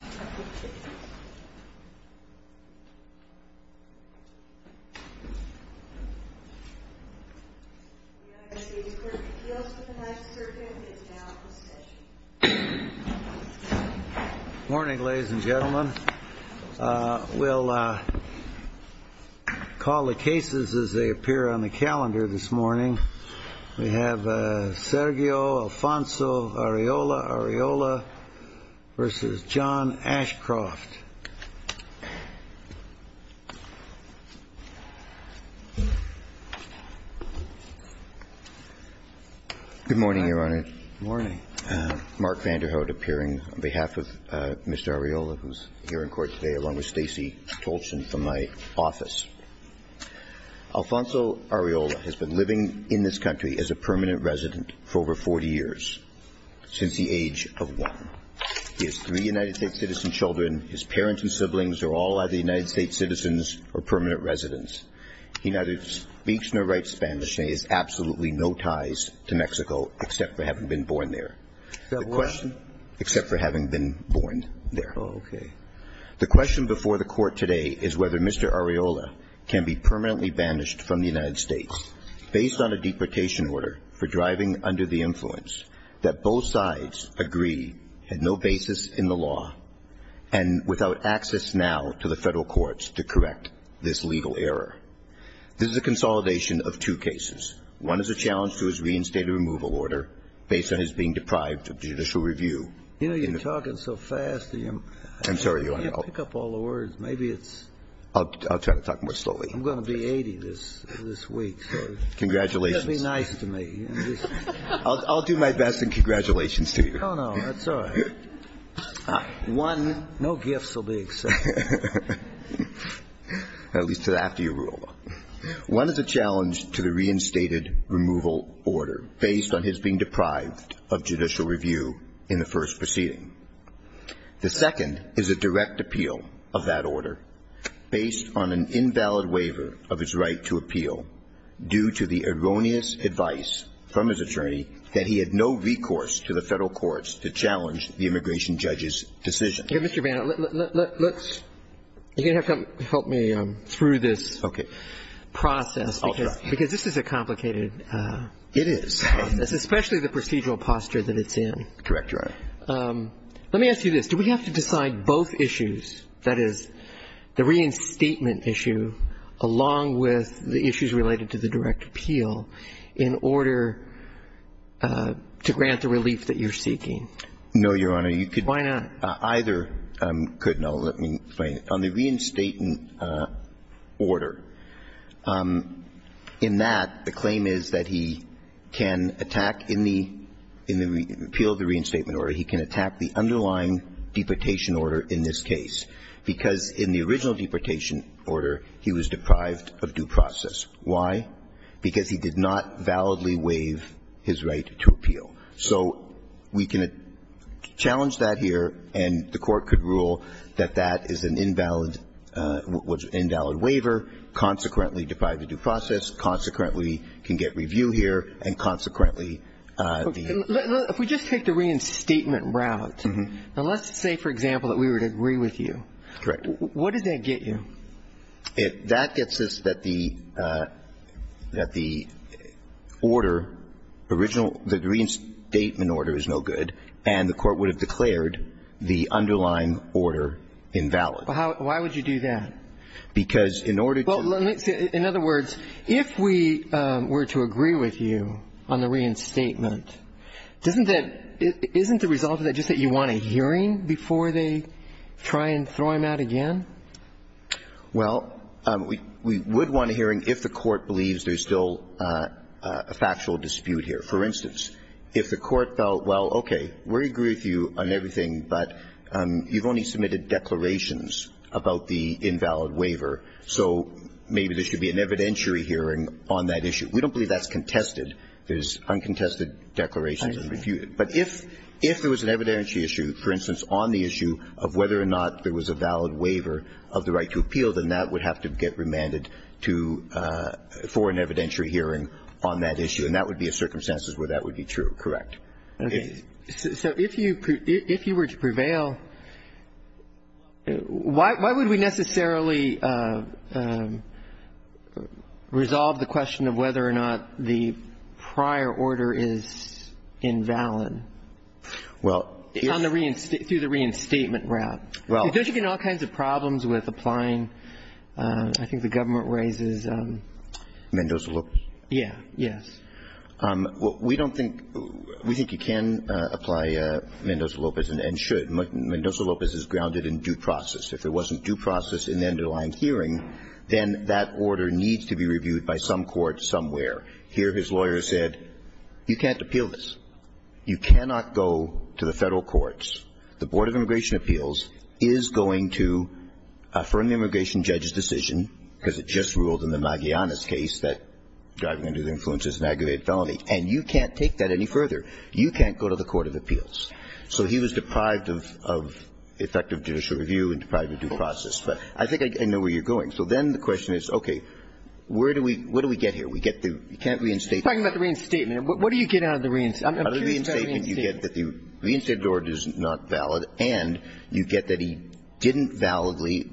Good morning, ladies and gentlemen. We'll call the cases as they appear on the calendar this morning. We have Sergio Alfonso Arreola-Arreola v. John Ashcroft. Good morning, Your Honor. Good morning. Mark Vanderhout appearing on behalf of Mr. Arreola, who's here in court today, along with Stacey Tolson from my office. Alfonso Arreola has been living in this country as a permanent resident for over 40 years, since the age of one. He has three United States citizen children. His parents and siblings are all either United States citizens or permanent residents. He neither speaks nor writes Spanish, and he has absolutely no ties to Mexico, except for having been born there. Except for what? Except for having been born there. Oh, okay. The question before the court today is whether Mr. Arreola can be permanently banished from the United States based on a deportation order for driving under the influence that both sides agree had no basis in the law and without access now to the federal courts to correct this legal error. This is a consolidation of two cases. One is a challenge to his reinstated removal order based on his being deprived of judicial review. You know, you're talking so fast. I'm sorry. You can't pick up all the words. Maybe it's... I'll try to talk more slowly. I'm going to be 80 this week. Congratulations. Just be nice to me. I'll do my best in congratulations to you. Oh, no. That's all right. One, no gifts will be accepted. At least to that, to your rule. One is a challenge to the reinstated removal order based on his being deprived of judicial review in the first proceeding. The second is a direct appeal of that order based on an invalid waiver of his right to appeal due to the erroneous advice from his attorney that he had no recourse to the federal courts to challenge the immigration judge's decision. Here, Mr. Bannon, let's... You're going to have to help me through this process because this is a complicated... It is. It's especially the procedural posture that it's in. Correct, Your Honor. Let me ask you this. Do we have to decide both issues, that is, the reinstatement issue along with the issues related to the direct appeal in order to grant the relief that you're seeking? No, Your Honor. You could... Why not? Either could. No, let me explain. On the reinstatement order, in that, the claim is that he can attack in the appeal of the reinstatement order, he can attack the underlying deportation order in this case, because in the original deportation order, he was deprived of due process. Why? Because he did not validly waive his right to appeal. So we can challenge that here, and the Court could rule that that is an invalid waiver, consequently deprived of due process, consequently can get review here, and consequently... If we just take the reinstatement route, now, let's say, for example, that we were to agree with you. Correct. What does that get you? That gets us that the order, original, the reinstatement order is no good, and the Court would have declared the underlying order invalid. Why would you do that? Because in order to... Well, let's say, in other words, if we were to agree with you on the reinstatement, doesn't that, isn't the result of that just that you want a hearing before they try and throw him out again? Well, we would want a hearing if the Court believes there's still a factual dispute here. For instance, if the Court felt, well, okay, we'll agree with you on everything, but you've only submitted declarations about the invalid waiver, so maybe there should be an evidentiary hearing on that issue. We don't believe that's contested. There's uncontested declarations that are refuted. But if there was an evidentiary issue, for instance, on the issue of whether or not there was a valid waiver of the right to appeal, then that would have to get remanded to, for an evidentiary hearing on that issue. And that would be a circumstance where that would be true, correct. Okay. So if you were to prevail, why would we necessarily resolve the question of whether or not the prior order is invalid? Well... Through the reinstatement route. Well... You're getting all kinds of problems with applying, I think the government raises... Mendoza-Lopez. Yeah. Yes. We don't think you can apply Mendoza-Lopez and should. Mendoza-Lopez is grounded in due process. If it wasn't due process in the underlying hearing, then that order needs to be reviewed by some court somewhere. Here his lawyer said, you can't appeal this. You cannot go to the Federal courts. The Board of Immigration Appeals is going to affirm the immigration judge's decision, because it just ruled in the Magellanes case that driving under the influence is an aggravated felony. And you can't take that any further. You can't go to the court of appeals. So he was deprived of effective judicial review and deprived of due process. But I think I know where you're going. So then the question is, okay, where do we get here? We can't reinstate... You're talking about the reinstatement. What do you get out of the reinstatement? Out of the reinstatement, you get that the reinstated order is not valid, and you get that he didn't validly,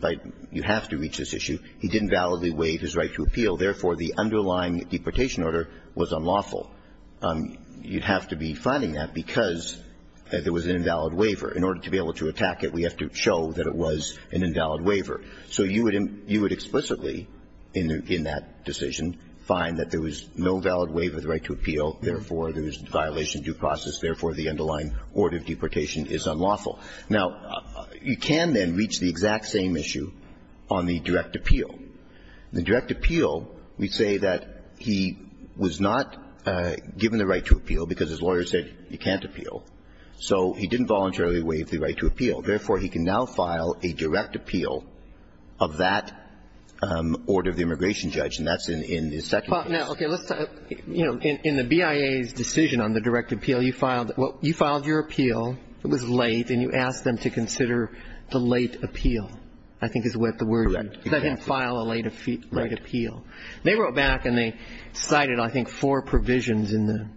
you have to reach this issue, he didn't validly waive his right to appeal. Therefore, the underlying deportation order was unlawful. You'd have to be finding that because there was an invalid waiver. In order to be able to attack it, we have to show that it was an invalid waiver. So you would explicitly in that decision find that there was no valid waiver of the violation due process, therefore, the underlying order of deportation is unlawful. Now, you can then reach the exact same issue on the direct appeal. The direct appeal, we say that he was not given the right to appeal because his lawyer said he can't appeal. So he didn't voluntarily waive the right to appeal. Therefore, he can now file a direct appeal of that order of the immigration judge, and that's in his second case. Well, now, okay, let's talk, you know, in the BIA's decision on the direct appeal, you filed your appeal. It was late, and you asked them to consider the late appeal, I think is what the word, that he file a late appeal. They wrote back, and they cited, I think, four provisions in the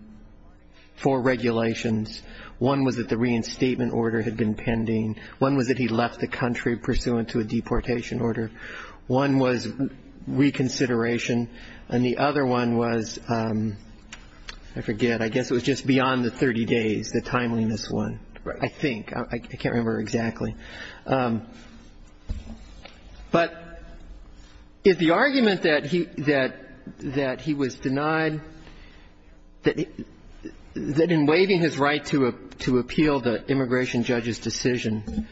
four regulations. One was that the reinstatement order had been pending. One was that he left the country pursuant to a deportation order. One was reconsideration, and the other one was, I forget, I guess it was just beyond the 30 days, the timeliness one. I think. I can't remember exactly. But the argument that he was denied, that in waiving his right to appeal the immigration judge's decision,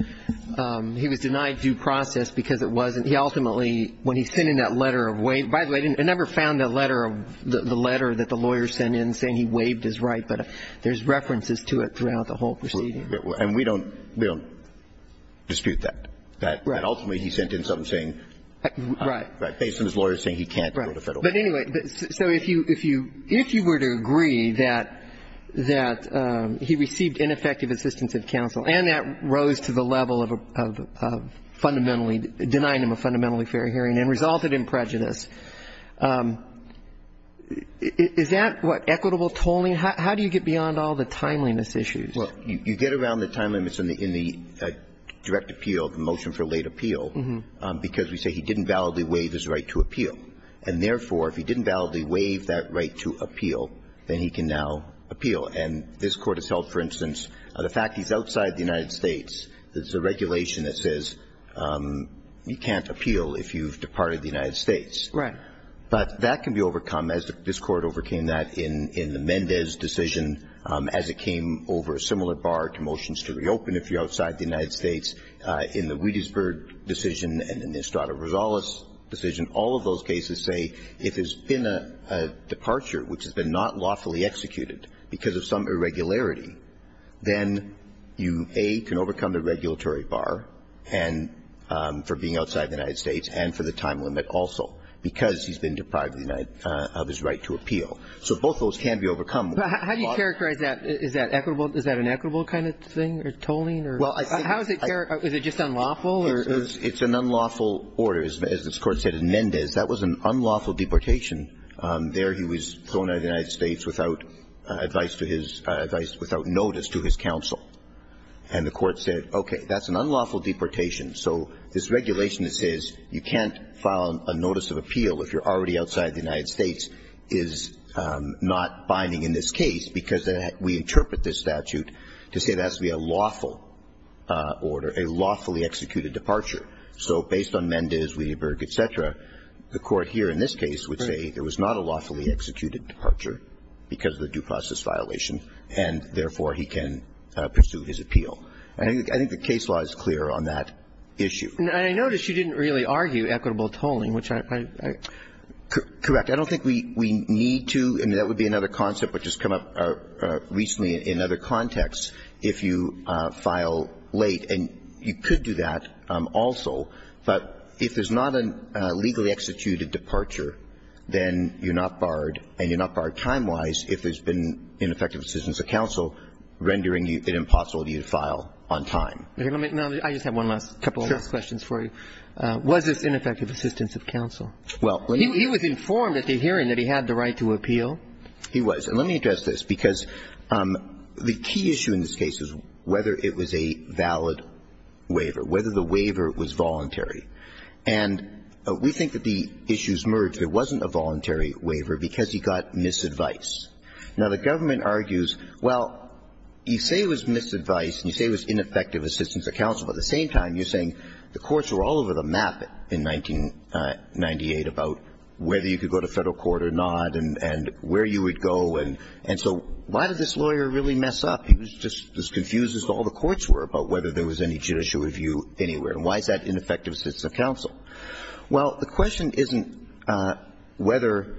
he was denied due process because it wasn't, he ultimately, when he sent in that letter of waive, by the way, I never found the letter that the lawyer sent in saying he waived his right, but there's references to it throughout the whole proceeding. And we don't dispute that, that ultimately he sent in something saying, based on his lawyer saying he can't go to federal court. But anyway, so if you were to agree that he received ineffective assistance from the executive counsel, and that rose to the level of fundamentally denying him a fundamentally fair hearing and resulted in prejudice, is that what equitable tolling, how do you get beyond all the timeliness issues? Well, you get around the timeliness in the direct appeal, the motion for late appeal, because we say he didn't validly waive his right to appeal. And therefore, if he didn't validly waive that right to appeal, then he can now appeal. And this Court has held, for instance, the fact he's outside the United States, there's a regulation that says you can't appeal if you've departed the United States. Right. But that can be overcome, as this Court overcame that in the Mendez decision, as it came over a similar bar to motions to reopen if you're outside the United States, in the Wiedesberg decision and in the Estrada-Rosales decision, all of those cases say if there's been a departure which has been not lawfully executed because of some irregularity, then you, A, can overcome the regulatory bar, and for being outside the United States and for the time limit also, because he's been deprived of his right to appeal. So both of those can be overcome. But how do you characterize that? Is that equitable? Is that an equitable kind of thing, tolling? Well, I think – How is it – is it just unlawful, or – It's an unlawful order, as this Court said in Mendez. That was an unlawful deportation. There he was thrown out of the United States without advice to his – advice without notice to his counsel. And the Court said, okay, that's an unlawful deportation. So this regulation that says you can't file a notice of appeal if you're already outside the United States is not binding in this case, because we interpret this statute to say that's via lawful order, a lawfully executed departure. So based on Mendez, Witteberg, et cetera, the Court here in this case would say there was not a lawfully executed departure because of the due process violation, and therefore, he can pursue his appeal. I think the case law is clear on that issue. And I notice you didn't really argue equitable tolling, which I – Correct. I don't think we need to, and that would be another concept which has come up recently in other contexts, if you file late. And you could do that also. But if there's not a legally executed departure, then you're not barred, and you're not barred time-wise if there's been ineffective assistance of counsel rendering you – an impossibility to file on time. Okay. Let me – no, I just have one last – couple of last questions for you. Sure. Was this ineffective assistance of counsel? Well, let me – He was informed at the hearing that he had the right to appeal. He was. Let me address this, because the key issue in this case is whether it was a valid waiver, whether the waiver was voluntary. And we think that the issues merged. There wasn't a voluntary waiver because he got misadvice. Now, the government argues, well, you say it was misadvice and you say it was ineffective assistance of counsel, but at the same time, you're saying the courts were all over the map in 1998 about whether you could go to Federal court or not and where you would go, and so why did this lawyer really mess up? He was just as confused as all the courts were about whether there was any judicial review anywhere. And why is that ineffective assistance of counsel? Well, the question isn't whether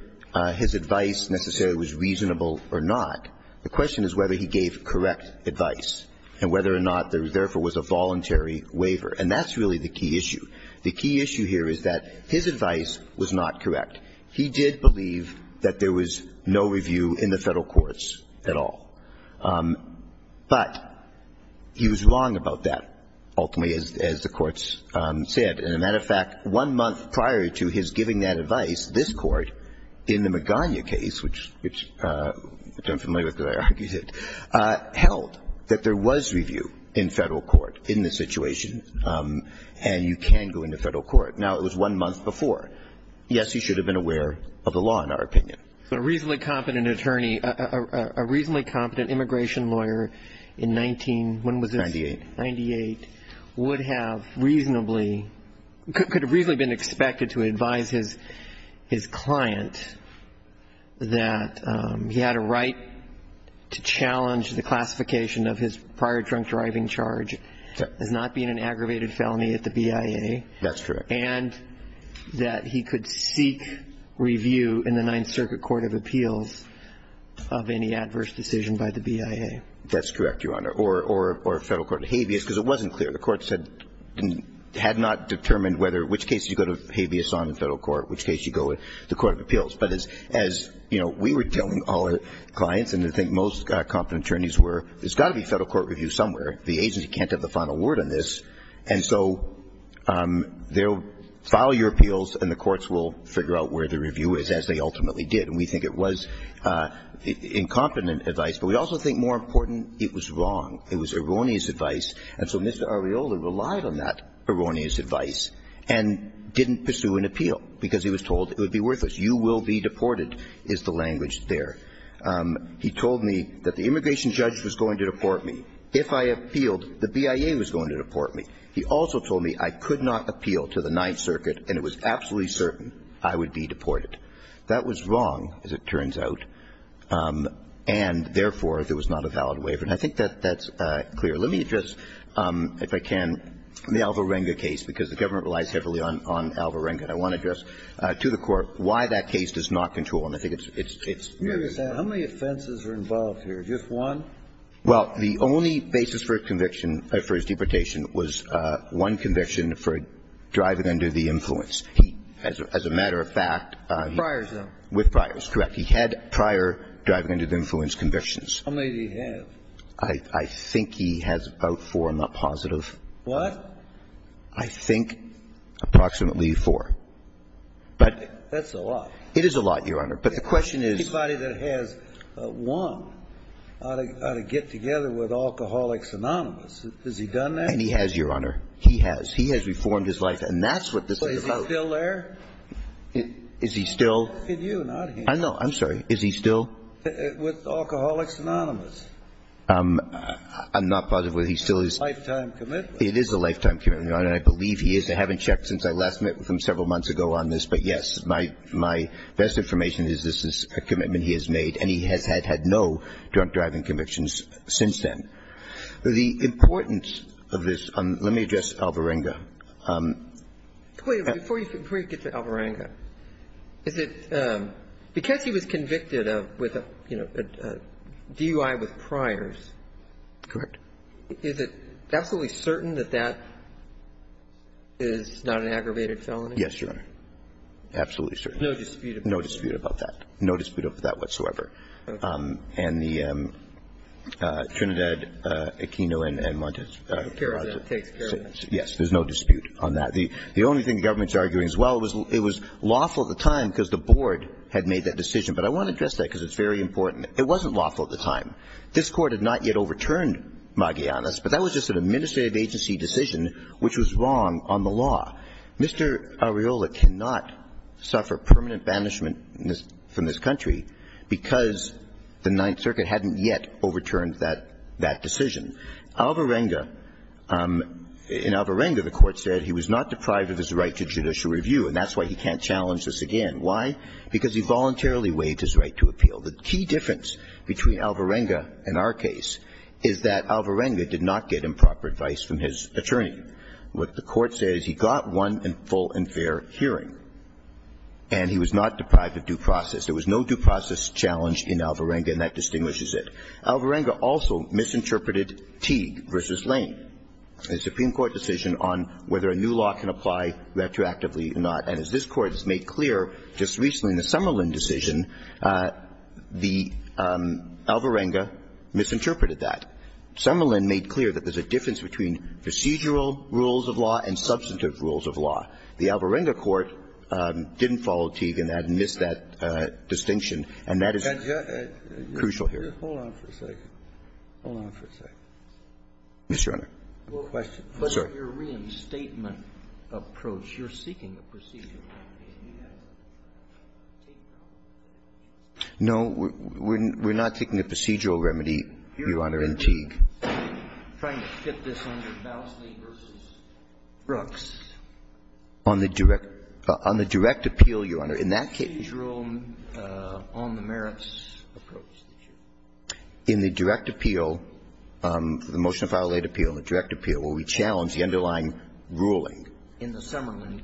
his advice necessarily was reasonable or not. The question is whether he gave correct advice and whether or not there therefore was a voluntary waiver. And that's really the key issue. The key issue here is that his advice was not correct. He did believe that there was no review in the Federal courts at all. But he was wrong about that, ultimately, as the courts said. As a matter of fact, one month prior to his giving that advice, this Court in the Magana case, which I'm familiar with because I argued it, held that there was review in Federal court in this situation and you can go into Federal court. Now, it was one month before. Yes, he should have been aware of the law, in our opinion. But a reasonably competent attorney, a reasonably competent immigration lawyer in 19, when was this? Ninety-eight. Ninety-eight, would have reasonably, could have reasonably been expected to advise his client that he had a right to challenge the classification of his prior drunk driving charge as not being an aggravated felony at the BIA. That's correct. And that he could seek review in the Ninth Circuit Court of Appeals of any adverse decision by the BIA. That's correct, Your Honor. Or Federal Court of Habeas, because it wasn't clear. The courts had not determined whether, which case you go to Habeas on in Federal court, which case you go to the Court of Appeals. But as we were telling all our clients, and I think most competent attorneys were, there's got to be Federal court review somewhere. The agency can't have the final word on this. And so they'll file your appeals and the courts will figure out where the review is, as they ultimately did. And we think it was incompetent advice. But we also think, more important, it was wrong. It was erroneous advice. And so Mr. Arreola relied on that erroneous advice and didn't pursue an appeal, because he was told it would be worthless. You will be deported is the language there. He told me that the immigration judge was going to deport me. If I appealed, the BIA was going to deport me. He also told me I could not appeal to the Ninth Circuit, and it was absolutely certain I would be deported. That was wrong, as it turns out, and therefore, there was not a valid waiver. And I think that that's clear. Let me address, if I can, the Alvarenga case, because the government relies heavily on Alvarenga. And I want to address to the Court why that case does not control. And I think it's very important. Kennedy. How many offenses are involved here? Just one? Well, the only basis for conviction for his deportation was one conviction for driving under the influence. He, as a matter of fact, with priors. Correct. He had prior driving under the influence convictions. How many did he have? I think he has about four. I'm not positive. What? I think approximately four. But. That's a lot. It is a lot, Your Honor. But the question is. Anybody that has one ought to get together with Alcoholics Anonymous. Has he done that? And he has, Your Honor. He has. He has reformed his life. And that's what this is about. Is he still there? Is he still. Look at you, not him. I know. I'm sorry. Is he still. With Alcoholics Anonymous. I'm not positive whether he still is. Lifetime commitment. It is a lifetime commitment, Your Honor. And I believe he is. I haven't checked since I last met with him several months ago on this. But yes, my best information is this is a commitment he has made. And he has had no drug-deriving convictions since then. The importance of this. Let me address Alvarenga. Before you get to Alvarenga. Is it because he was convicted with a DUI with priors. Correct. Is it absolutely certain that that is not an aggravated felony? Yes, Your Honor. Absolutely certain. No dispute. No dispute about that. No dispute of that whatsoever. And the Trinidad Aquino and Montes. Yes, there's no dispute on that. The only thing the government's arguing as well was it was lawful at the time because the board had made that decision. But I want to address that because it's very important. It wasn't lawful at the time. This court had not yet overturned Magallanes. But that was just an administrative agency decision, which was wrong on the law. Mr. Arreola cannot suffer permanent banishment from this country because the Ninth Circuit hadn't yet overturned that decision. Alvarenga, in Alvarenga, the court said he was not deprived of his right to judicial review. And that's why he can't challenge this again. Why? Because he voluntarily waived his right to appeal. The key difference between Alvarenga and our case is that Alvarenga did not get improper advice from his attorney. What the court says, he got one full and fair hearing, and he was not deprived of due process. There was no due process challenge in Alvarenga, and that distinguishes it. Alvarenga also misinterpreted Teague v. Lane, a Supreme Court decision on whether a new law can apply retroactively or not. And as this Court has made clear just recently in the Summerlin decision, the Alvarenga misinterpreted that. Summerlin made clear that there's a difference between procedural rules of law and substantive rules of law. The Alvarenga court didn't follow Teague in that and missed that distinction, and that is crucial here. Hold on for a second. Hold on for a second. Yes, Your Honor. One question. Your reinstatement approach, you're seeking a procedural remedy, and you have a Teague remedy. No, we're not taking a procedural remedy, Your Honor, in Teague. I'm trying to fit this under Bowsley v. Brooks. On the direct – on the direct appeal, Your Honor, in that case you're on the merits approach. In the direct appeal, the motion to file a late appeal, the direct appeal, where we challenge the underlying ruling. In the Summerlin.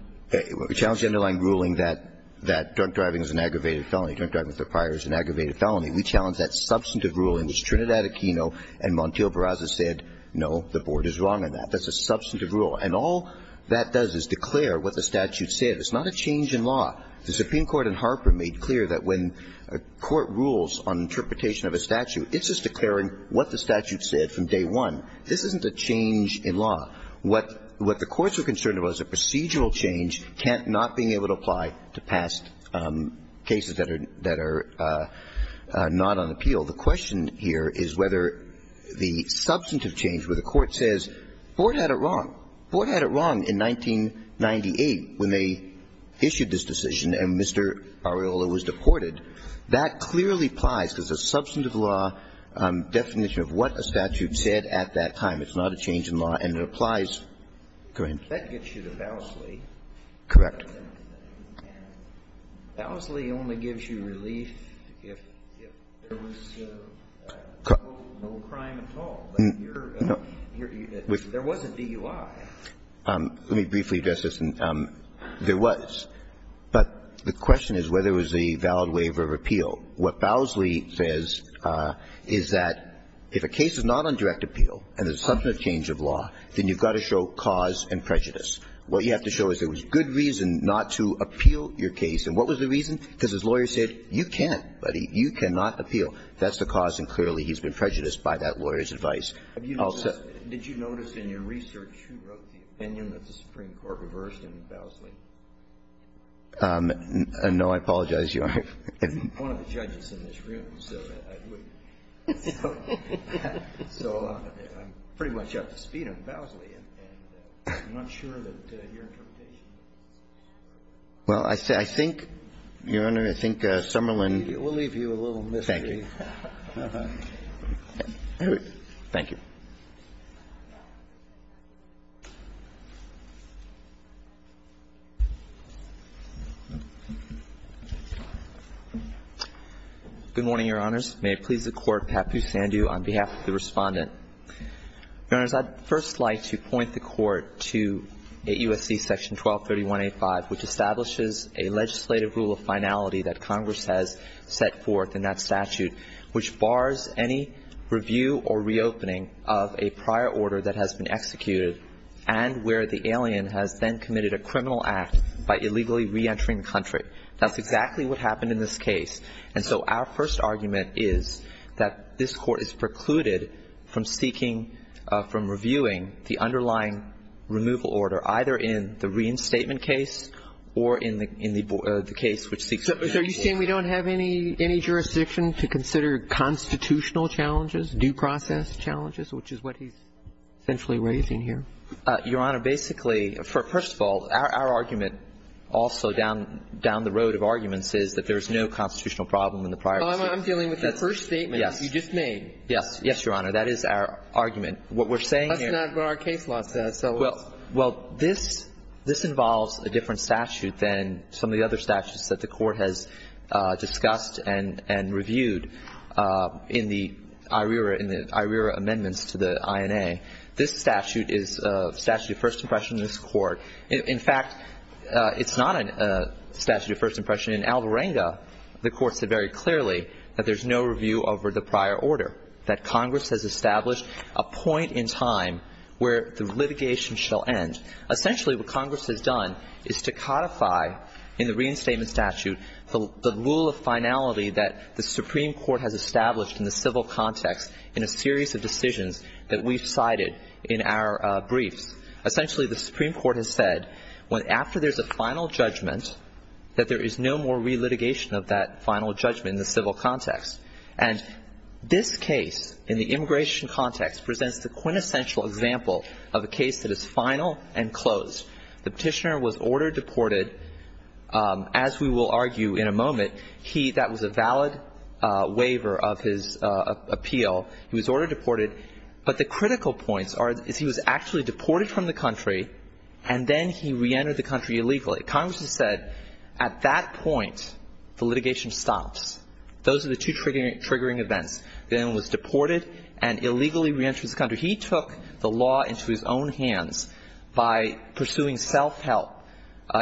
We challenge the underlying ruling that drunk driving is an aggravated felony. Drunk driving with a prior is an aggravated felony. We challenge that substantive ruling, which Trinidad Aquino and Montiel Barraza said, no, the Board is wrong on that. That's a substantive rule. And all that does is declare what the statute said. It's not a change in law. The Supreme Court in Harper made clear that when a court rules on interpretation of a statute, it's just declaring what the statute said from day one. This isn't a change in law. What the courts are concerned about is a procedural change, not being able to apply to past cases that are – that are not on appeal. The question here is whether the substantive change where the court says, the Board had it wrong. The Board had it wrong in 1998 when they issued this decision and Mr. Areola was deported. That clearly applies because the substantive law definition of what a statute said at that time. It's not a change in law, and it applies. Go ahead. That gets you to Bowsley. Correct. And Bowsley only gives you relief if there was no crime at all. There was a DUI. Let me briefly address this. There was. But the question is whether it was a valid waiver of appeal. What Bowsley says is that if a case is not on direct appeal and there's a substantive change of law, then you've got to show cause and prejudice. What you have to show is there was good reason not to appeal your case. And what was the reason? Because his lawyer said, you can't, buddy. You cannot appeal. That's the cause, and clearly he's been prejudiced by that lawyer's advice. Did you notice in your research who wrote the opinion that the Supreme Court reversed in Bowsley? No, I apologize. You are. One of the judges in this room, so I wouldn't. So I'm pretty much at the speed of Bowsley, and I'm not sure that your interpretation is correct. Well, I think, Your Honor, I think Summerlin. We'll leave you a little mystery. Thank you. Thank you. Good morning, Your Honors. May it please the Court, Pat Busandu on behalf of the Respondent. Your Honors, I'd first like to point the Court to 8 U.S.C. Section 1231A5, which establishes a legislative rule of finality that Congress has set forth in that statute, which bars any review or reopening of a prior order that has been executed and where the alien has then committed a criminal act by illegally reentering the country. That's exactly what happened in this case. And so our first argument is that this Court is precluded from seeking, from reviewing the underlying removal order, either in the reinstatement case or in the case which seeks to renegotiate. So you're saying we don't have any jurisdiction to consider constitutional challenges, due process challenges, which is what he's essentially raising here? Your Honor, basically, first of all, our argument also down the road of arguments is that there is no constitutional problem in the prior order. I'm dealing with your first statement that you just made. Yes. Yes, Your Honor. That is our argument. What we're saying here — That's not what our case law says, so — Well, this involves a different statute than some of the other statutes that the Court has discussed and reviewed in the IRERA amendments to the INA. This statute is a statute of first impression in this Court. In fact, it's not a statute of first impression. In Alvarenga, the Court said very clearly that there's no review over the prior order, that Congress has established a point in time where the litigation shall end. Essentially, what Congress has done is to codify in the reinstatement statute the rule of finality that the Supreme Court has established in the civil context in a series of decisions that we've cited in our briefs. Essentially, the Supreme Court has said, after there's a final judgment, that there is no more relitigation of that final judgment in the civil context. And this case, in the immigration context, presents the quintessential example of a case that is final and closed. The petitioner was order-deported, as we will argue in a moment. He — that was a valid waiver of his appeal. He was order-deported. But the critical points are, is he was actually deported from the country, and then he reentered the country illegally. Congress has said, at that point, the litigation stops. Those are the two triggering events. The gentleman was deported and illegally reentered the country. He took the law into his own hands by pursuing self-help.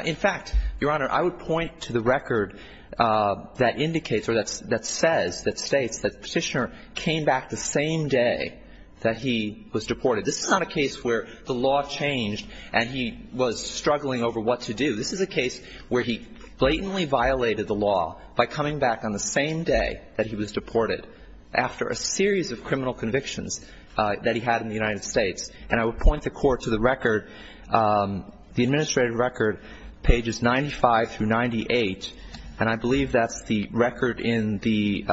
In fact, Your Honor, I would point to the record that indicates or that says, that the petitioner came back the same day that he was deported. This is not a case where the law changed and he was struggling over what to do. This is a case where he blatantly violated the law by coming back on the same day that he was deported, after a series of criminal convictions that he had in the United States. And I would point the Court to the record — the administrative record, pages 95 through 98, and I believe that's the record in the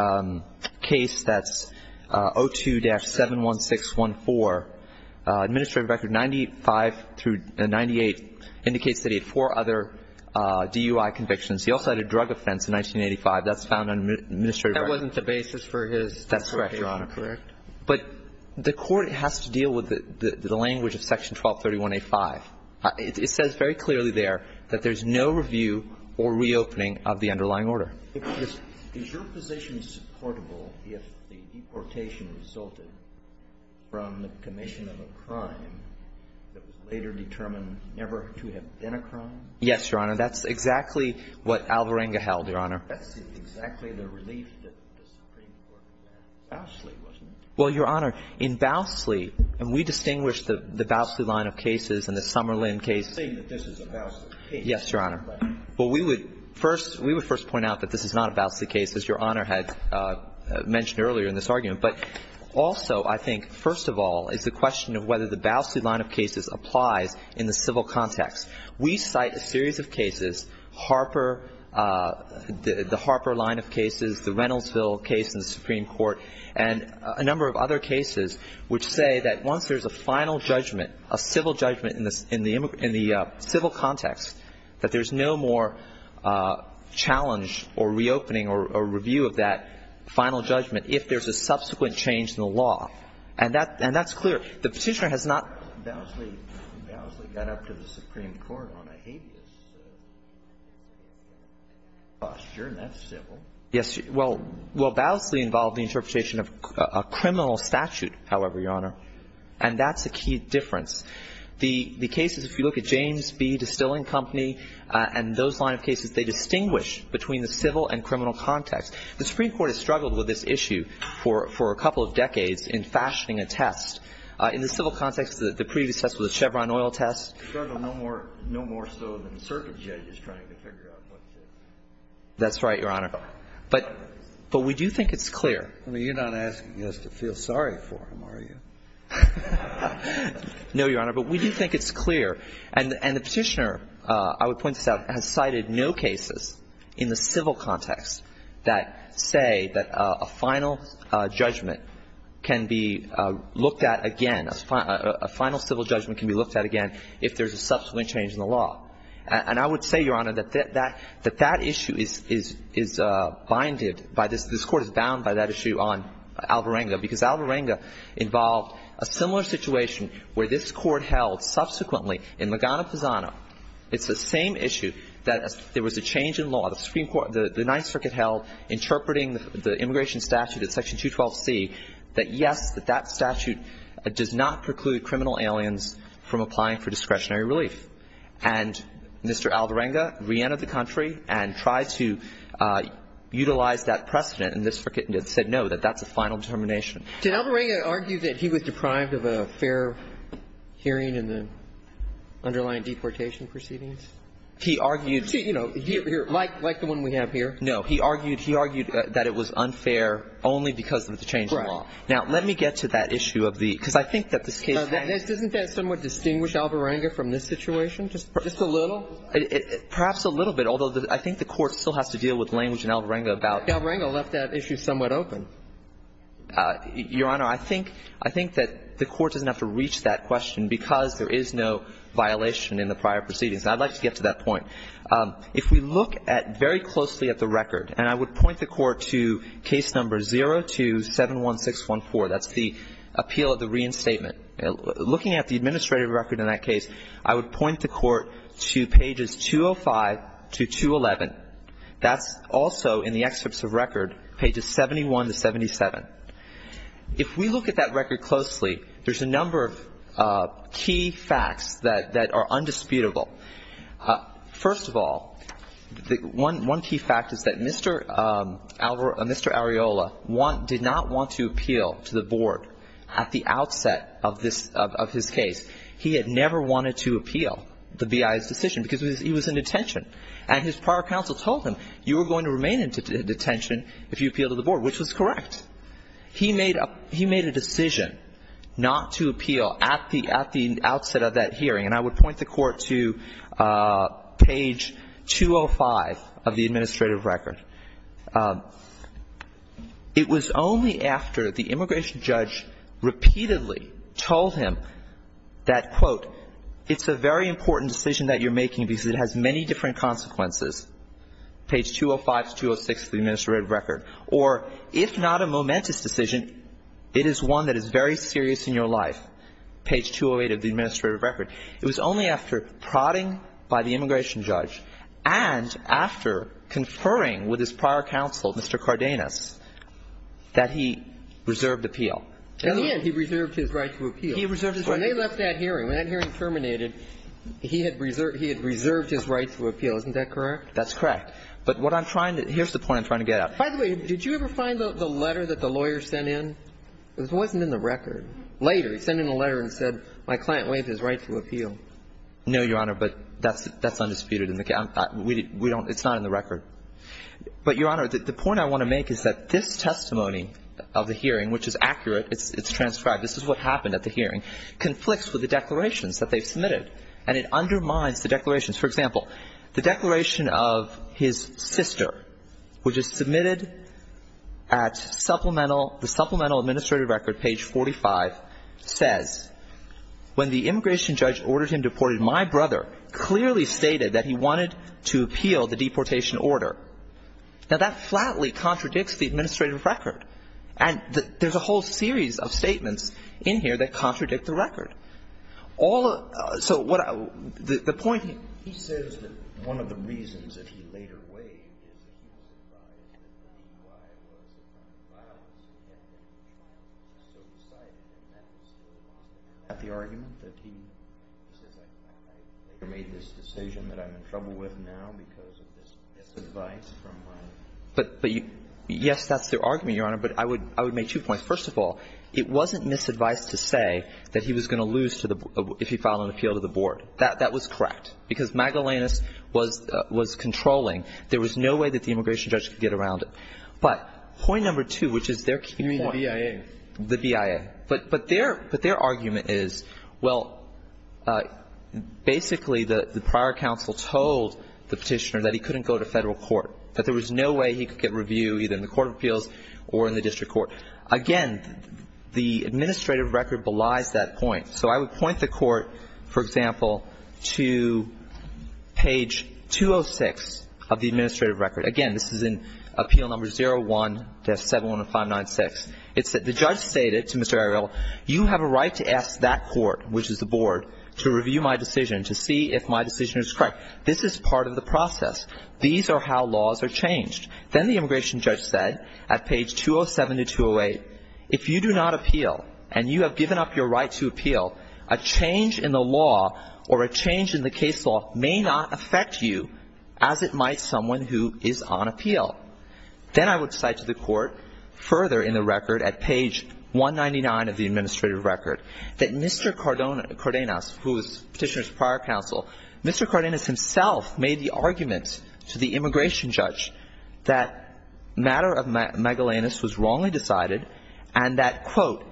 case that's 02-71614. Administrative record 95 through 98 indicates that he had four other DUI convictions. He also had a drug offense in 1985. That's found in the administrative record. That wasn't the basis for his deportation, correct? That's correct, Your Honor. But the Court has to deal with the language of Section 1231A5. It says very clearly there that there's no review or reopening of the underlying order. Is your position supportable if the deportation resulted from the commission of a crime that was later determined never to have been a crime? Yes, Your Honor. That's exactly what Alvarenga held, Your Honor. That's exactly the relief that the Supreme Court had. Bowsley, wasn't it? Well, Your Honor, in Bowsley — and we distinguish the Bowsley line of cases and the Somerlin case — Saying that this is a Bowsley case. Yes, Your Honor. But we would first — we would first point out that this is not a Bowsley case, as Your Honor had mentioned earlier in this argument. But also, I think, first of all, is the question of whether the Bowsley line of cases applies in the civil context. We cite a series of cases, Harper — the Harper line of cases, the Reynoldsville case in the Supreme Court, and a number of other cases which say that once there's a final judgment, a civil judgment in the — in the civil context, that there's no more challenge or reopening or review of that final judgment if there's a subsequent change in the law. And that's clear. The Petitioner has not — Bowsley got up to the Supreme Court on a habeas posture, and that's civil. Yes. That's a key difference. The — the cases, if you look at James B. Distilling Company and those line of cases, they distinguish between the civil and criminal context. The Supreme Court has struggled with this issue for — for a couple of decades in fashioning a test. In the civil context, the previous test was a Chevron oil test. Struggled no more — no more so than the circuit judge is trying to figure out what to do. That's right, Your Honor. But — but we do think it's clear. I mean, you're not asking us to feel sorry for him, are you? No, Your Honor. But we do think it's clear. And — and the Petitioner, I would point this out, has cited no cases in the civil context that say that a final judgment can be looked at again — a final civil judgment can be looked at again if there's a subsequent change in the law. And I would say, Your Honor, that that — that that issue is — is — is binded by this — this Court is bound by that issue on Alvarenga, because Alvarenga involved a similar situation where this Court held subsequently in Magana-Pisano. It's the same issue that there was a change in law. The Supreme Court — the Ninth Circuit held, interpreting the immigration statute at Section 212C, that yes, that that statute does not preclude criminal aliens from applying for discretionary relief. And Mr. Alvarenga reentered the country and tried to utilize that precedent in this circuit and said no, that that's a final determination. Did Alvarenga argue that he was deprived of a fair hearing in the underlying deportation proceedings? He argued — You see, you know, here — like — like the one we have here. No. He argued — he argued that it was unfair only because of the change in law. Right. Now, let me get to that issue of the — because I think that this case has — Doesn't that somewhat distinguish Alvarenga from this situation, just a little? Perhaps a little bit, although I think the Court still has to deal with language in Alvarenga about — Alvarenga left that issue somewhat open. Your Honor, I think — I think that the Court doesn't have to reach that question because there is no violation in the prior proceedings. And I'd like to get to that point. If we look at — very closely at the record, and I would point the Court to case number 0271614, that's the appeal of the reinstatement. Looking at the administrative record in that case, I would point the Court to pages 205 to 211. That's also, in the excerpts of record, pages 71 to 77. If we look at that record closely, there's a number of key facts that are undisputable. First of all, one key fact is that Mr. Arriola did not want to appeal to the Board at the outset of this — of his case. He had never wanted to appeal the BIA's decision because he was in detention. And his prior counsel told him, you are going to remain in detention if you appeal to the Board, which was correct. He made a — he made a decision not to appeal at the — at the outset of that hearing. And I would point the Court to page 205 of the administrative record. It was only after the immigration judge repeatedly told him that, quote, it's a very different consequence, page 205 to 206 of the administrative record, or if not a momentous decision, it is one that is very serious in your life, page 208 of the administrative record. It was only after prodding by the immigration judge and after conferring with his prior counsel, Mr. Cardenas, that he reserved appeal. In the end, he reserved his right to appeal. He reserved his right to appeal. When they left that hearing, when that hearing terminated, he had reserved — he had reserved his right to appeal. Isn't that correct? That's correct. But what I'm trying to — here's the point I'm trying to get at. By the way, did you ever find the letter that the lawyer sent in? It wasn't in the record. Later, he sent in a letter and said, my client waived his right to appeal. No, Your Honor, but that's — that's undisputed in the — we don't — it's not in the record. But, Your Honor, the point I want to make is that this testimony of the hearing, which is accurate, it's transcribed, this is what happened at the hearing, conflicts with the declarations that they've submitted. And it undermines the declarations. For example, the declaration of his sister, which is submitted at supplemental — the supplemental administrative record, page 45, says, when the immigration judge ordered him deported, my brother clearly stated that he wanted to appeal the deportation order. Now, that flatly contradicts the administrative record. And there's a whole series of statements in here that contradict the record. All — so, what I — the point — He says that one of the reasons that he later waived is that he was advised that the reason why was because of the violence against him. He was so excited when that was going on. Is that the argument, that he says, I made this decision that I'm in trouble with now because of this misadvice from my — But — yes, that's the argument, Your Honor. But I would — I would make two points. First of all, it wasn't misadvice to say that he was going to lose to the — if he filed an appeal to the board. That was correct. Because Magellanus was controlling. There was no way that the immigration judge could get around it. But point number two, which is their key point — You mean the BIA? The BIA. But their — but their argument is, well, basically, the prior counsel told the petitioner that he couldn't go to federal court, that there was no way he could get review either in the court of appeals or in the district court. Again, the administrative record belies that point. So I would point the court, for example, to page 206 of the administrative record. Again, this is in Appeal No. 01-71596. It said, the judge stated to Mr. Ariel, you have a right to ask that court, which is the board, to review my decision, to see if my decision is correct. This is part of the process. These are how laws are changed. Then the immigration judge said, at page 207-208, if you do not appeal and you have given up your right to appeal, a change in the law or a change in the case law may not affect you as it might someone who is on appeal. Then I would cite to the court, further in the record, at page 199 of the administrative record, that Mr. Cardenas, who was the petitioner's prior counsel, Mr. Cardenas himself made the argument to the immigration judge that matter of megalanus was wrongly decided and that, quote,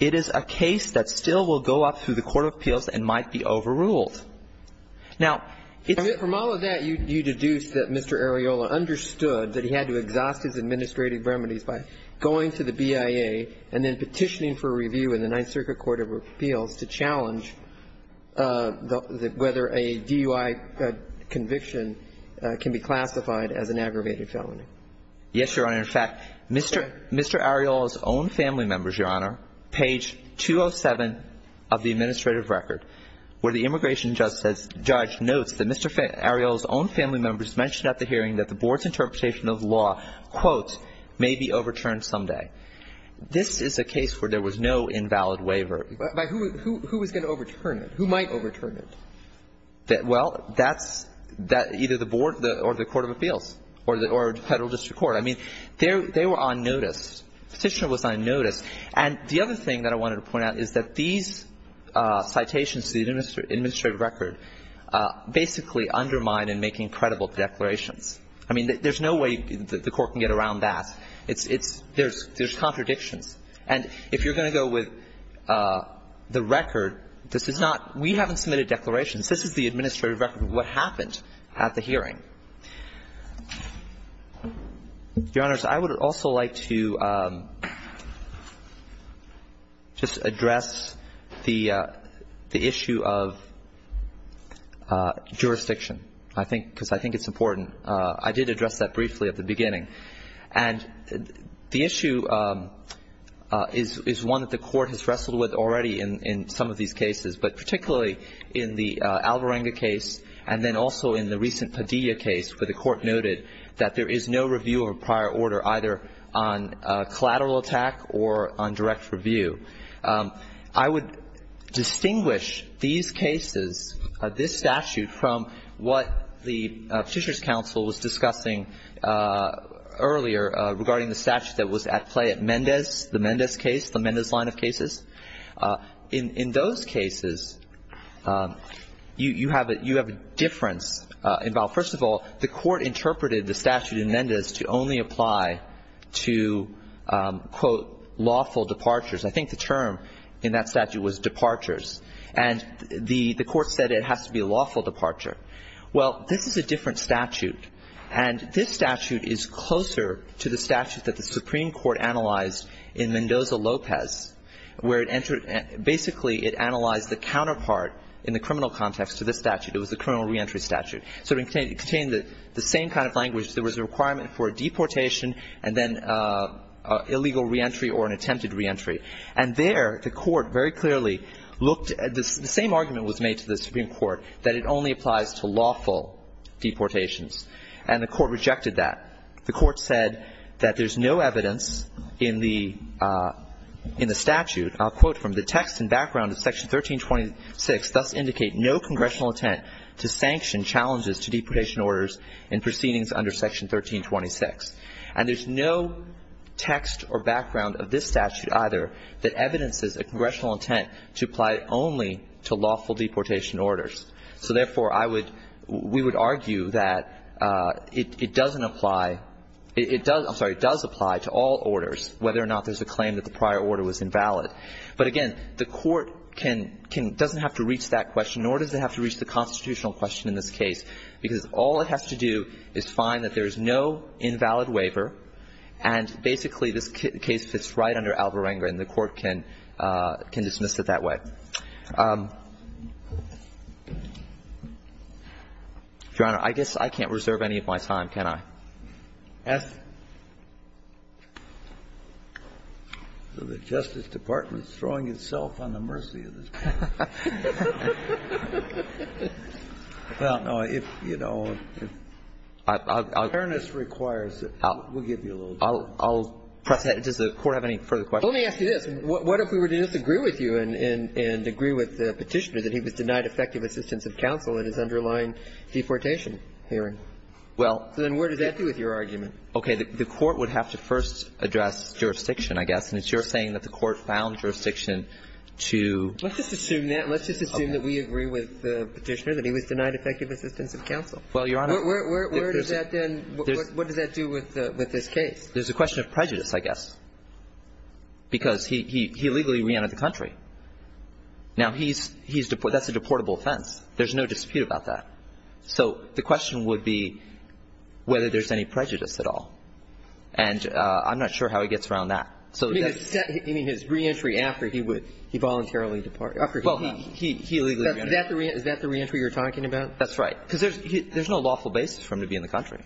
it is a case that still will go up through the court of appeals and might be overruled. Now, it's the court of appeals. And from all of that, you deduce that Mr. Areola understood that he had to exhaust his administrative remedies by going to the BIA and then petitioning for review in the Ninth Circuit Court of Appeals to challenge whether a DUI conviction can be classified as an aggravated felony. Yes, Your Honor. In fact, Mr. Areola's own family members, Your Honor, page 207 of the administrative record, where the immigration judge notes that Mr. Areola's own family members mentioned at the hearing that the board's interpretation of law, quote, may be overturned someday. This is a case where there was no invalid waiver. But who was going to overturn it? Who might overturn it? Well, that's either the board or the court of appeals or the Federal District Court. I mean, they were on notice. The petitioner was on notice. And the other thing that I wanted to point out is that these citations to the administrative record basically undermine in making credible declarations. I mean, there's no way the Court can get around that. It's – there's contradictions. And if you're going to go with the record, this is not – we haven't submitted declarations. This is the administrative record of what happened at the hearing. Your Honors, I would also like to just address the issue of jurisdiction. I think – because I think it's important. I did address that briefly at the beginning. And the issue is one that the Court has wrestled with already in some of these cases, but particularly in the Alvarenga case and then also in the recent Padilla case where the Court noted that there is no review of a prior order either on collateral attack or on direct review. I would distinguish these cases, this statute, from what the Petitioner's Counsel was discussing earlier regarding the statute that was at play at Mendez, the Mendez case, the Mendez line of cases. In those cases, you have a difference involved. First of all, the Court interpreted the statute in Mendez to only apply to, quote, lawful departures. I think the term in that statute was departures. And the Court said it has to be a lawful departure. Well, this is a different statute. And this statute is closer to the statute that the Supreme Court analyzed in Mendoza-Lopez where it entered – basically it analyzed the counterpart in the criminal context to this statute. It was the criminal reentry statute. So it contained the same kind of language. There was a requirement for a deportation and then illegal reentry or an attempted reentry. And there the Court very clearly looked – the same argument was made to the Supreme Court that it only applies to lawful deportations. And the Court rejected that. The Court said that there's no evidence in the statute, I'll quote from the text and background of Section 1326, thus indicate no congressional intent to sanction challenges to deportation orders in proceedings under Section 1326. And there's no text or background of this statute either that evidences a congressional intent to apply only to lawful deportation orders. So, therefore, I would – we would argue that it doesn't apply – it does – I'm sorry, it does apply to all orders whether or not there's a claim that the prior order was invalid. But, again, the Court can – doesn't have to reach that question, nor does it have to reach the constitutional question in this case, because all it has to do is find that there's no invalid waiver, and basically this case fits right under Alvarenga and the Court can – can dismiss it that way. Your Honor, I guess I can't reserve any of my time, can I? The Justice Department is throwing itself on the mercy of this panel. I don't know. If, you know, if fairness requires it, we'll give you a little time. I'll press ahead. Does the Court have any further questions? Let me ask you this. What if we were to disagree with you and agree with the Petitioner that he was denied effective assistance of counsel in his underlying deportation hearing? Well – Then what does that do with your argument? Okay. The Court would have to first address jurisdiction, I guess, and it's your saying that the Court found jurisdiction to – Let's just assume that. Let's just assume that we agree with the Petitioner that he was denied effective assistance of counsel. Well, Your Honor – Where does that then – what does that do with this case? There's a question of prejudice, I guess. Because he illegally reentered the country. Now, he's – that's a deportable offense. There's no dispute about that. So the question would be whether there's any prejudice at all. And I'm not sure how he gets around that. You mean his reentry after he voluntarily departed? Well, he illegally reentered. Is that the reentry you're talking about? That's right. Because there's no lawful basis for him to be in the country.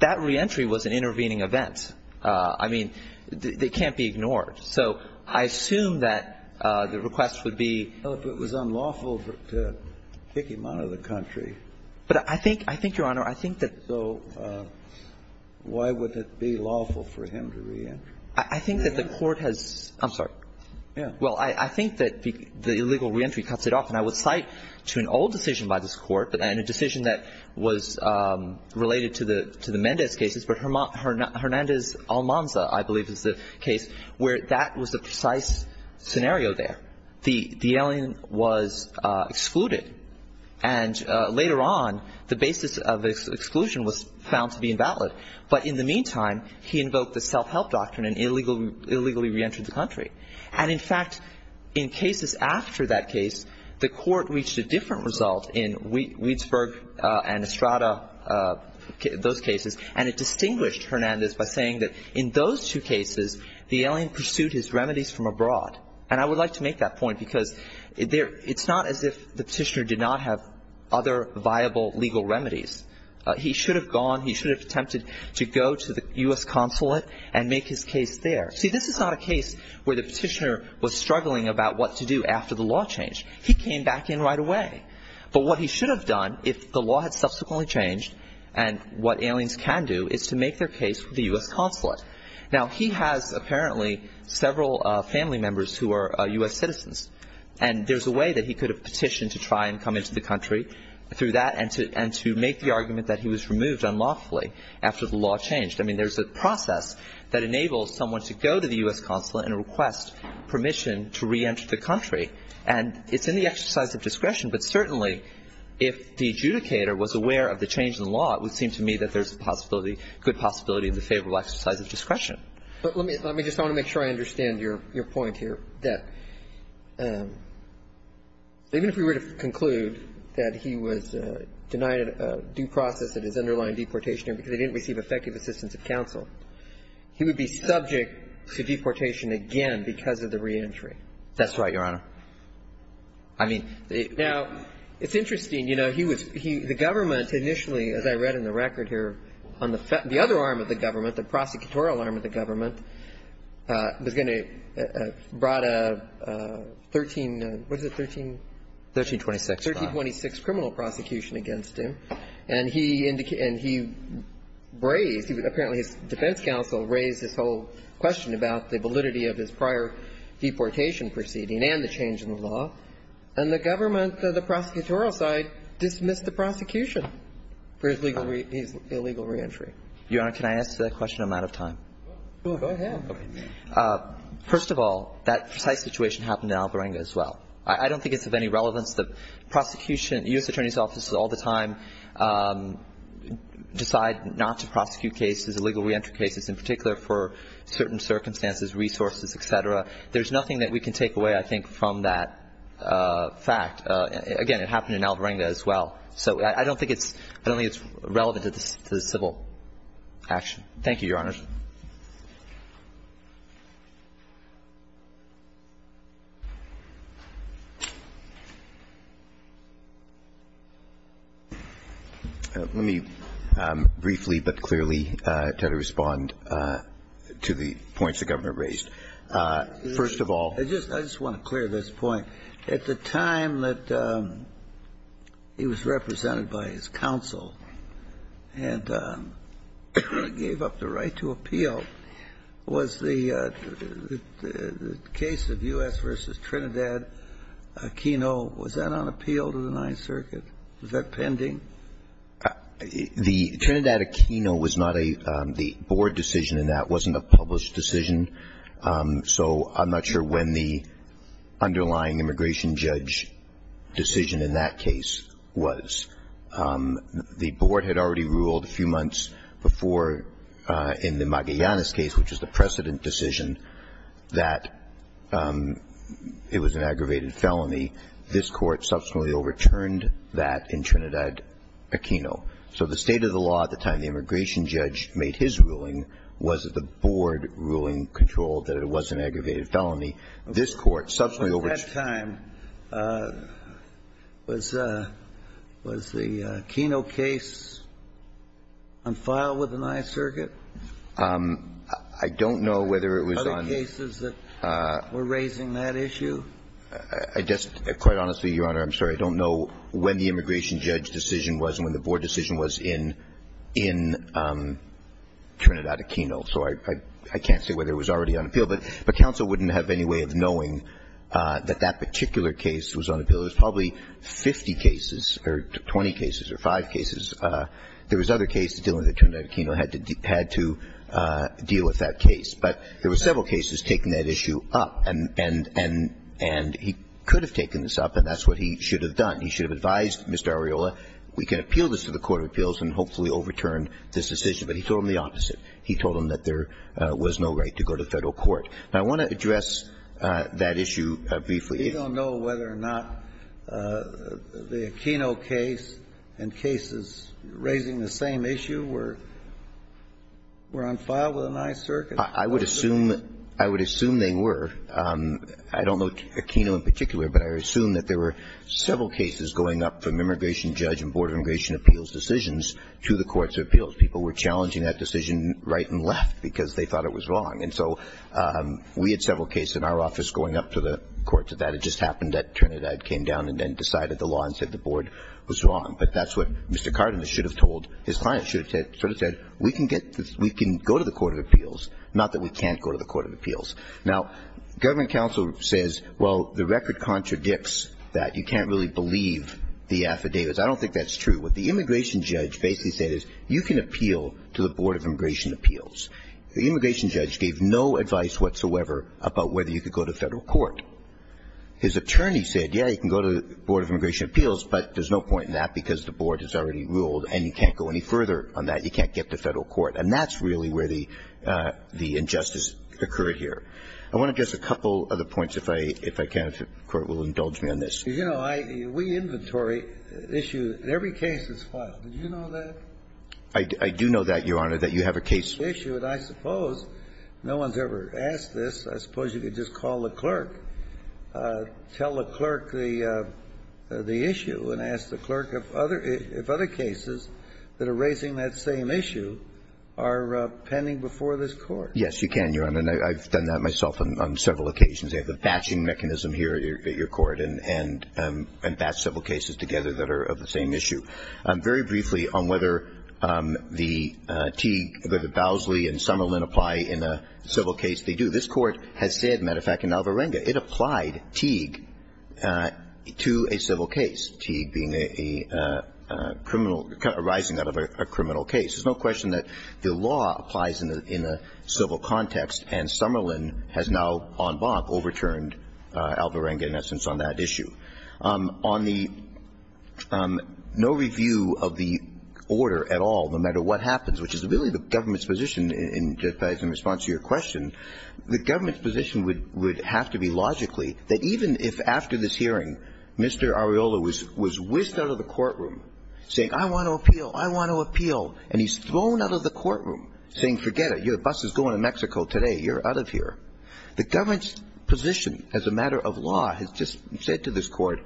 That reentry was an intervening event. I mean, it can't be ignored. So I assume that the request would be – Well, if it was unlawful to kick him out of the country – But I think – I think, Your Honor, I think that – So why would it be lawful for him to reentry? I think that the Court has – I'm sorry. Yeah. Well, I think that the illegal reentry cuts it off. And I would cite to an old decision by this Court, and a decision that was related to the Mendez cases, but Hernandez-Almanza, I believe, is the case, where that was the precise scenario there. The alien was excluded. And later on, the basis of exclusion was found to be invalid. But in the meantime, he invoked the self-help doctrine and illegally reentered the country. And, in fact, in cases after that case, the Court reached a different result in Weisberg and Estrada, those cases, and it distinguished Hernandez by saying that in those two cases, the alien pursued his remedies from abroad. And I would like to make that point, because it's not as if the petitioner did not have other viable legal remedies. He should have gone. He should have attempted to go to the U.S. consulate and make his case there. See, this is not a case where the petitioner was struggling about what to do after the law changed. He came back in right away. But what he should have done if the law had subsequently changed and what aliens can do is to make their case with the U.S. consulate. Now, he has apparently several family members who are U.S. citizens, and there's a way that he could have petitioned to try and come into the country through that and to make the argument that he was removed unlawfully after the law changed. I mean, there's a process that enables someone to go to the U.S. consulate and request permission to reenter the country. And it's in the exercise of discretion. But certainly, if the adjudicator was aware of the change in the law, it would seem to me that there's a possibility, good possibility of the favorable exercise of discretion. But let me just want to make sure I understand your point here, that even if we were to conclude that he was denied due process at his underlying deportation because he didn't receive effective assistance of counsel, he would be subject to deportation again because of the reentry. That's right, Your Honor. I mean, the – Now, it's interesting. You know, he was – the government initially, as I read in the record here, on the other arm of the government, the prosecutorial arm of the government, was going to – brought a 13 – what is it, 13? 1326. 1326 criminal prosecution against him. And he – and he raised – apparently, his defense counsel raised this whole question about the validity of his prior deportation proceeding and the change in the law. And the government, the prosecutorial side, dismissed the prosecution for his legal – his illegal reentry. Your Honor, can I answer that question? I'm out of time. Go ahead. First of all, that precise situation happened in Alvarenga as well. I don't think it's of any relevance. The prosecution – U.S. Attorney's offices all the time decide not to prosecute cases, illegal reentry cases, in particular for certain circumstances, resources, et cetera. There's nothing that we can take away, I think, from that fact. Again, it happened in Alvarenga as well. So I don't think it's – I don't think it's relevant to the civil action. Thank you, Your Honor. Let me briefly but clearly try to respond to the points the Governor raised. First of all – I just – I just want to clear this point. At the time that he was represented by his counsel and gave up the right to a life appeal, was the case of U.S. v. Trinidad-Aquino, was that on appeal to the Ninth Circuit? Was that pending? The Trinidad-Aquino was not a – the board decision in that wasn't a published decision. So I'm not sure when the underlying immigration judge decision in that case was. The board had already ruled a few months before in the Magallanes case, which is the precedent decision, that it was an aggravated felony. This Court subsequently overturned that in Trinidad-Aquino. So the state of the law at the time the immigration judge made his ruling was that the board ruling controlled that it was an aggravated felony. This Court subsequently – At that time, was the Aquino case on file with the Ninth Circuit? I don't know whether it was on – Other cases that were raising that issue? I just – quite honestly, Your Honor, I'm sorry. I don't know when the immigration judge decision was and when the board decision was in Trinidad-Aquino. So I can't say whether it was already on appeal. But counsel wouldn't have any way of knowing that that particular case was on appeal. There's probably 50 cases or 20 cases or five cases. There was other cases dealing with Trinidad-Aquino had to deal with that case. But there were several cases taking that issue up. And he could have taken this up, and that's what he should have done. He should have advised Mr. Arriola, we can appeal this to the court of appeals and hopefully overturn this decision. But he told him the opposite. He told him that there was no right to go to Federal court. Now, I want to address that issue briefly. We don't know whether or not the Aquino case and cases raising the same issue were on file with the Ninth Circuit. I would assume they were. I don't know Aquino in particular, but I would assume that there were several cases going up from immigration judge and board of immigration appeals decisions to the courts of appeals. People were challenging that decision right and left because they thought it was wrong. And so we had several cases in our office going up to the courts of that. It just happened that Trinidad came down and then decided the law and said the board was wrong. But that's what Mr. Cardenas should have told his client. Should have sort of said, we can go to the court of appeals. Not that we can't go to the court of appeals. Now, government counsel says, well, the record contradicts that. You can't really believe the affidavits. I don't think that's true. What the immigration judge basically said is you can appeal to the board of immigration appeals. The immigration judge gave no advice whatsoever about whether you could go to Federal court. His attorney said, yes, you can go to the board of immigration appeals, but there's no point in that because the board has already ruled and you can't go any further on that. You can't get to Federal court. And that's really where the injustice occurred here. I want to address a couple of other points, if I can, if the Court will indulge me on this. You know, we inventory issues in every case that's filed. Did you know that? I do know that, Your Honor, that you have a case issue. And I suppose no one's ever asked this. I suppose you could just call the clerk, tell the clerk the issue, and ask the clerk if other cases that are raising that same issue are pending before this Court. Yes, you can, Your Honor. And I've done that myself on several occasions. I have the batching mechanism here at your court and batch civil cases together that are of the same issue. Very briefly on whether the Teague, whether Bowsley and Summerlin apply in a civil case, they do. This Court has said, as a matter of fact, in Alvarenga, it applied Teague to a civil case, Teague being a criminal, arising out of a criminal case. There's no question that the law applies in a civil context, and Summerlin has now on Bonk overturned Alvarenga in essence on that issue. On the no review of the order at all, no matter what happens, which is really the government's position in response to your question, the government's position would have to be logically that even if after this hearing Mr. Areola was whisked out of the courtroom saying, I want to appeal, I want to appeal, and he's thrown out of the courtroom saying, forget it, your bus is going to Mexico today, you're not going to get out of here. The government's position as a matter of law has just said to this Court,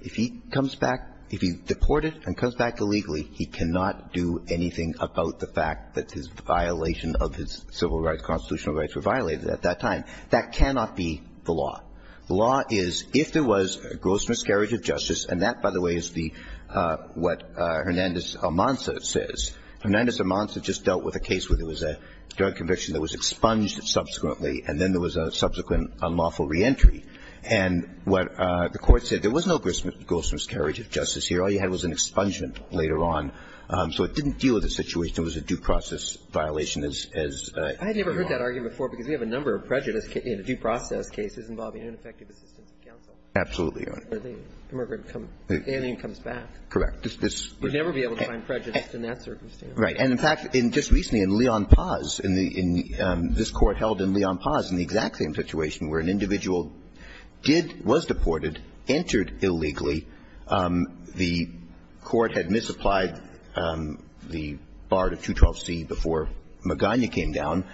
if he comes back, if he's deported and comes back illegally, he cannot do anything about the fact that his violation of his civil rights, constitutional rights were violated at that time. That cannot be the law. The law is, if there was gross miscarriage of justice, and that, by the way, is the what Hernandez-Almanza says. Hernandez-Almanza just dealt with a case where there was a drug conviction that was expunged subsequently, and then there was a subsequent unlawful reentry. And what the Court said, there was no gross miscarriage of justice here. All you had was an expungement later on. So it didn't deal with the situation. It was a due process violation, as you are. I had never heard that argument before, because we have a number of prejudice in a due process case involving ineffective assistance of counsel. Absolutely, Your Honor. Where the immigrant comes – alien comes back. Correct. We'd never be able to find prejudice in that circumstance. Right. And, in fact, just recently in Leon Paz, in the – this Court held in Leon Paz in the exact same situation where an individual did – was deported, entered illegally. The Court had misapplied the bar to 212C before Magana came down.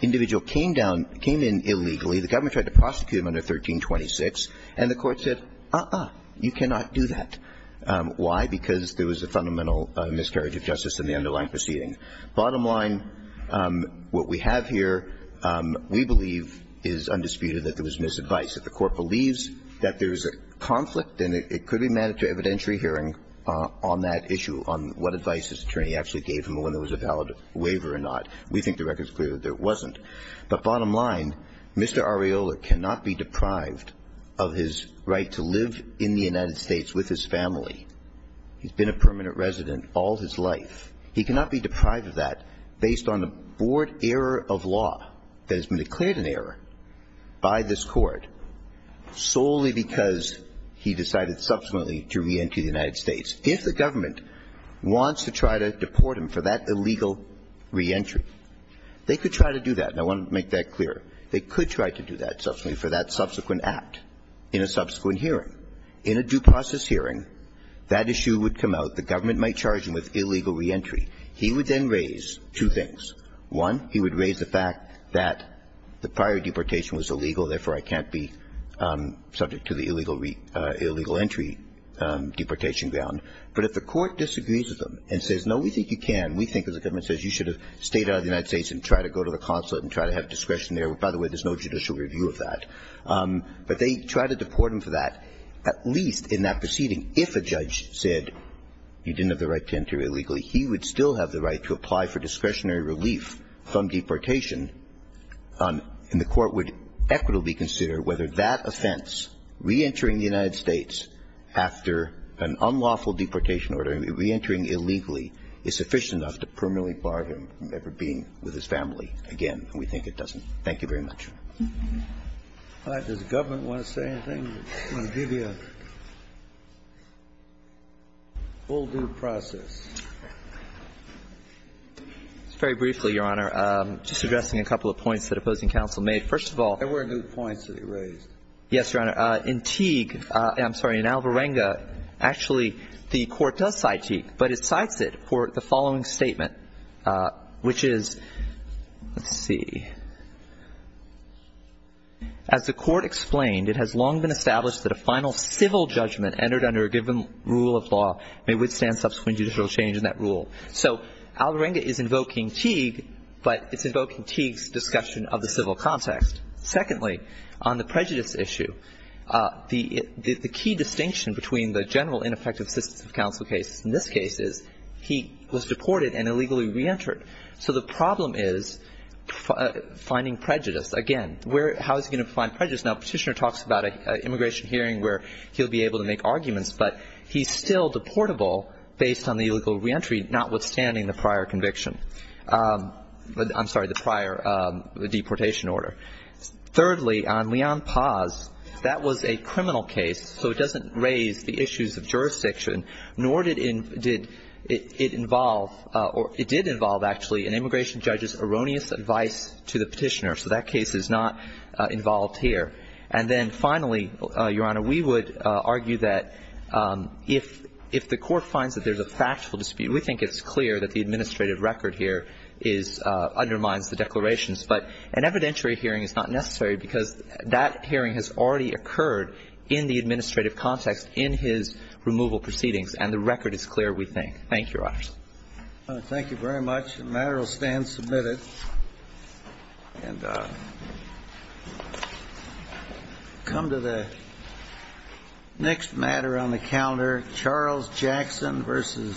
Individual came down – came in illegally. The government tried to prosecute him under 1326, and the Court said, uh-uh, you cannot do that. Why? Because there was a fundamental miscarriage of justice in the underlying proceeding. Bottom line, what we have here, we believe, is undisputed that there was misadvice. That the Court believes that there is a conflict, and it could be mandatory evidentiary hearing on that issue, on what advice his attorney actually gave him when there was a valid waiver or not. We think the record is clear that there wasn't. But bottom line, Mr. Areola cannot be deprived of his right to live in the United States with his family. He's been a permanent resident all his life. He cannot be deprived of that based on the board error of law that has been declared an error by this Court solely because he decided subsequently to re-entry the United States. If the government wants to try to deport him for that illegal re-entry, they could try to do that. And I want to make that clear. They could try to do that subsequently for that subsequent act in a subsequent hearing. In a due process hearing, that issue would come out. The government might charge him with illegal re-entry. He would then raise two things. One, he would raise the fact that the prior deportation was illegal, therefore, I can't be subject to the illegal re-entry deportation ground. But if the Court disagrees with him and says, no, we think you can, we think, as the government says, you should have stayed out of the United States and try to go to the consulate and try to have discretion there. By the way, there's no judicial review of that. But they try to deport him for that, at least in that proceeding. If a judge said you didn't have the right to enter illegally, he would still have the right to apply for discretionary relief from deportation, and the Court would equitably consider whether that offense, re-entering the United States after an unlawful deportation order, re-entering illegally, is sufficient enough to permanently bar him from ever being with his family again. And we think it doesn't. Thank you very much. All right. Does the government want to say anything? I'm going to give you a full due process. Very briefly, Your Honor. Just addressing a couple of points that opposing counsel made. First of all, there were new points that he raised. Yes, Your Honor. In Teague, I'm sorry, in Alvarenga, actually, the Court does cite Teague, but it cites it for the following statement, which is, let's see. As the Court explained, it has long been established that a final civil judgment entered under a given rule of law may withstand subsequent judicial change in that rule. So Alvarenga is invoking Teague, but it's invoking Teague's discussion of the civil context. Secondly, on the prejudice issue, the key distinction between the general ineffective assistance of counsel cases in this case is he was deported and illegally reentered. So the problem is finding prejudice. Again, how is he going to find prejudice? Now, Petitioner talks about an immigration hearing where he'll be able to make arguments, but he's still deportable based on the illegal reentry, notwithstanding the prior conviction. I'm sorry, the prior deportation order. Thirdly, on Leon Paz, that was a criminal case, so it doesn't raise the issues of the first section, nor did it involve or it did involve actually an immigration judge's erroneous advice to the Petitioner. So that case is not involved here. And then finally, Your Honor, we would argue that if the Court finds that there's a factual dispute, we think it's clear that the administrative record here is — undermines the declarations. But an evidentiary hearing is not necessary because that hearing has already occurred in the administrative context in his removal proceedings, and the record is clear, we think. Thank you, Your Honor. Thank you very much. The matter will stand submitted. And come to the next matter on the calendar, Charles Jackson v.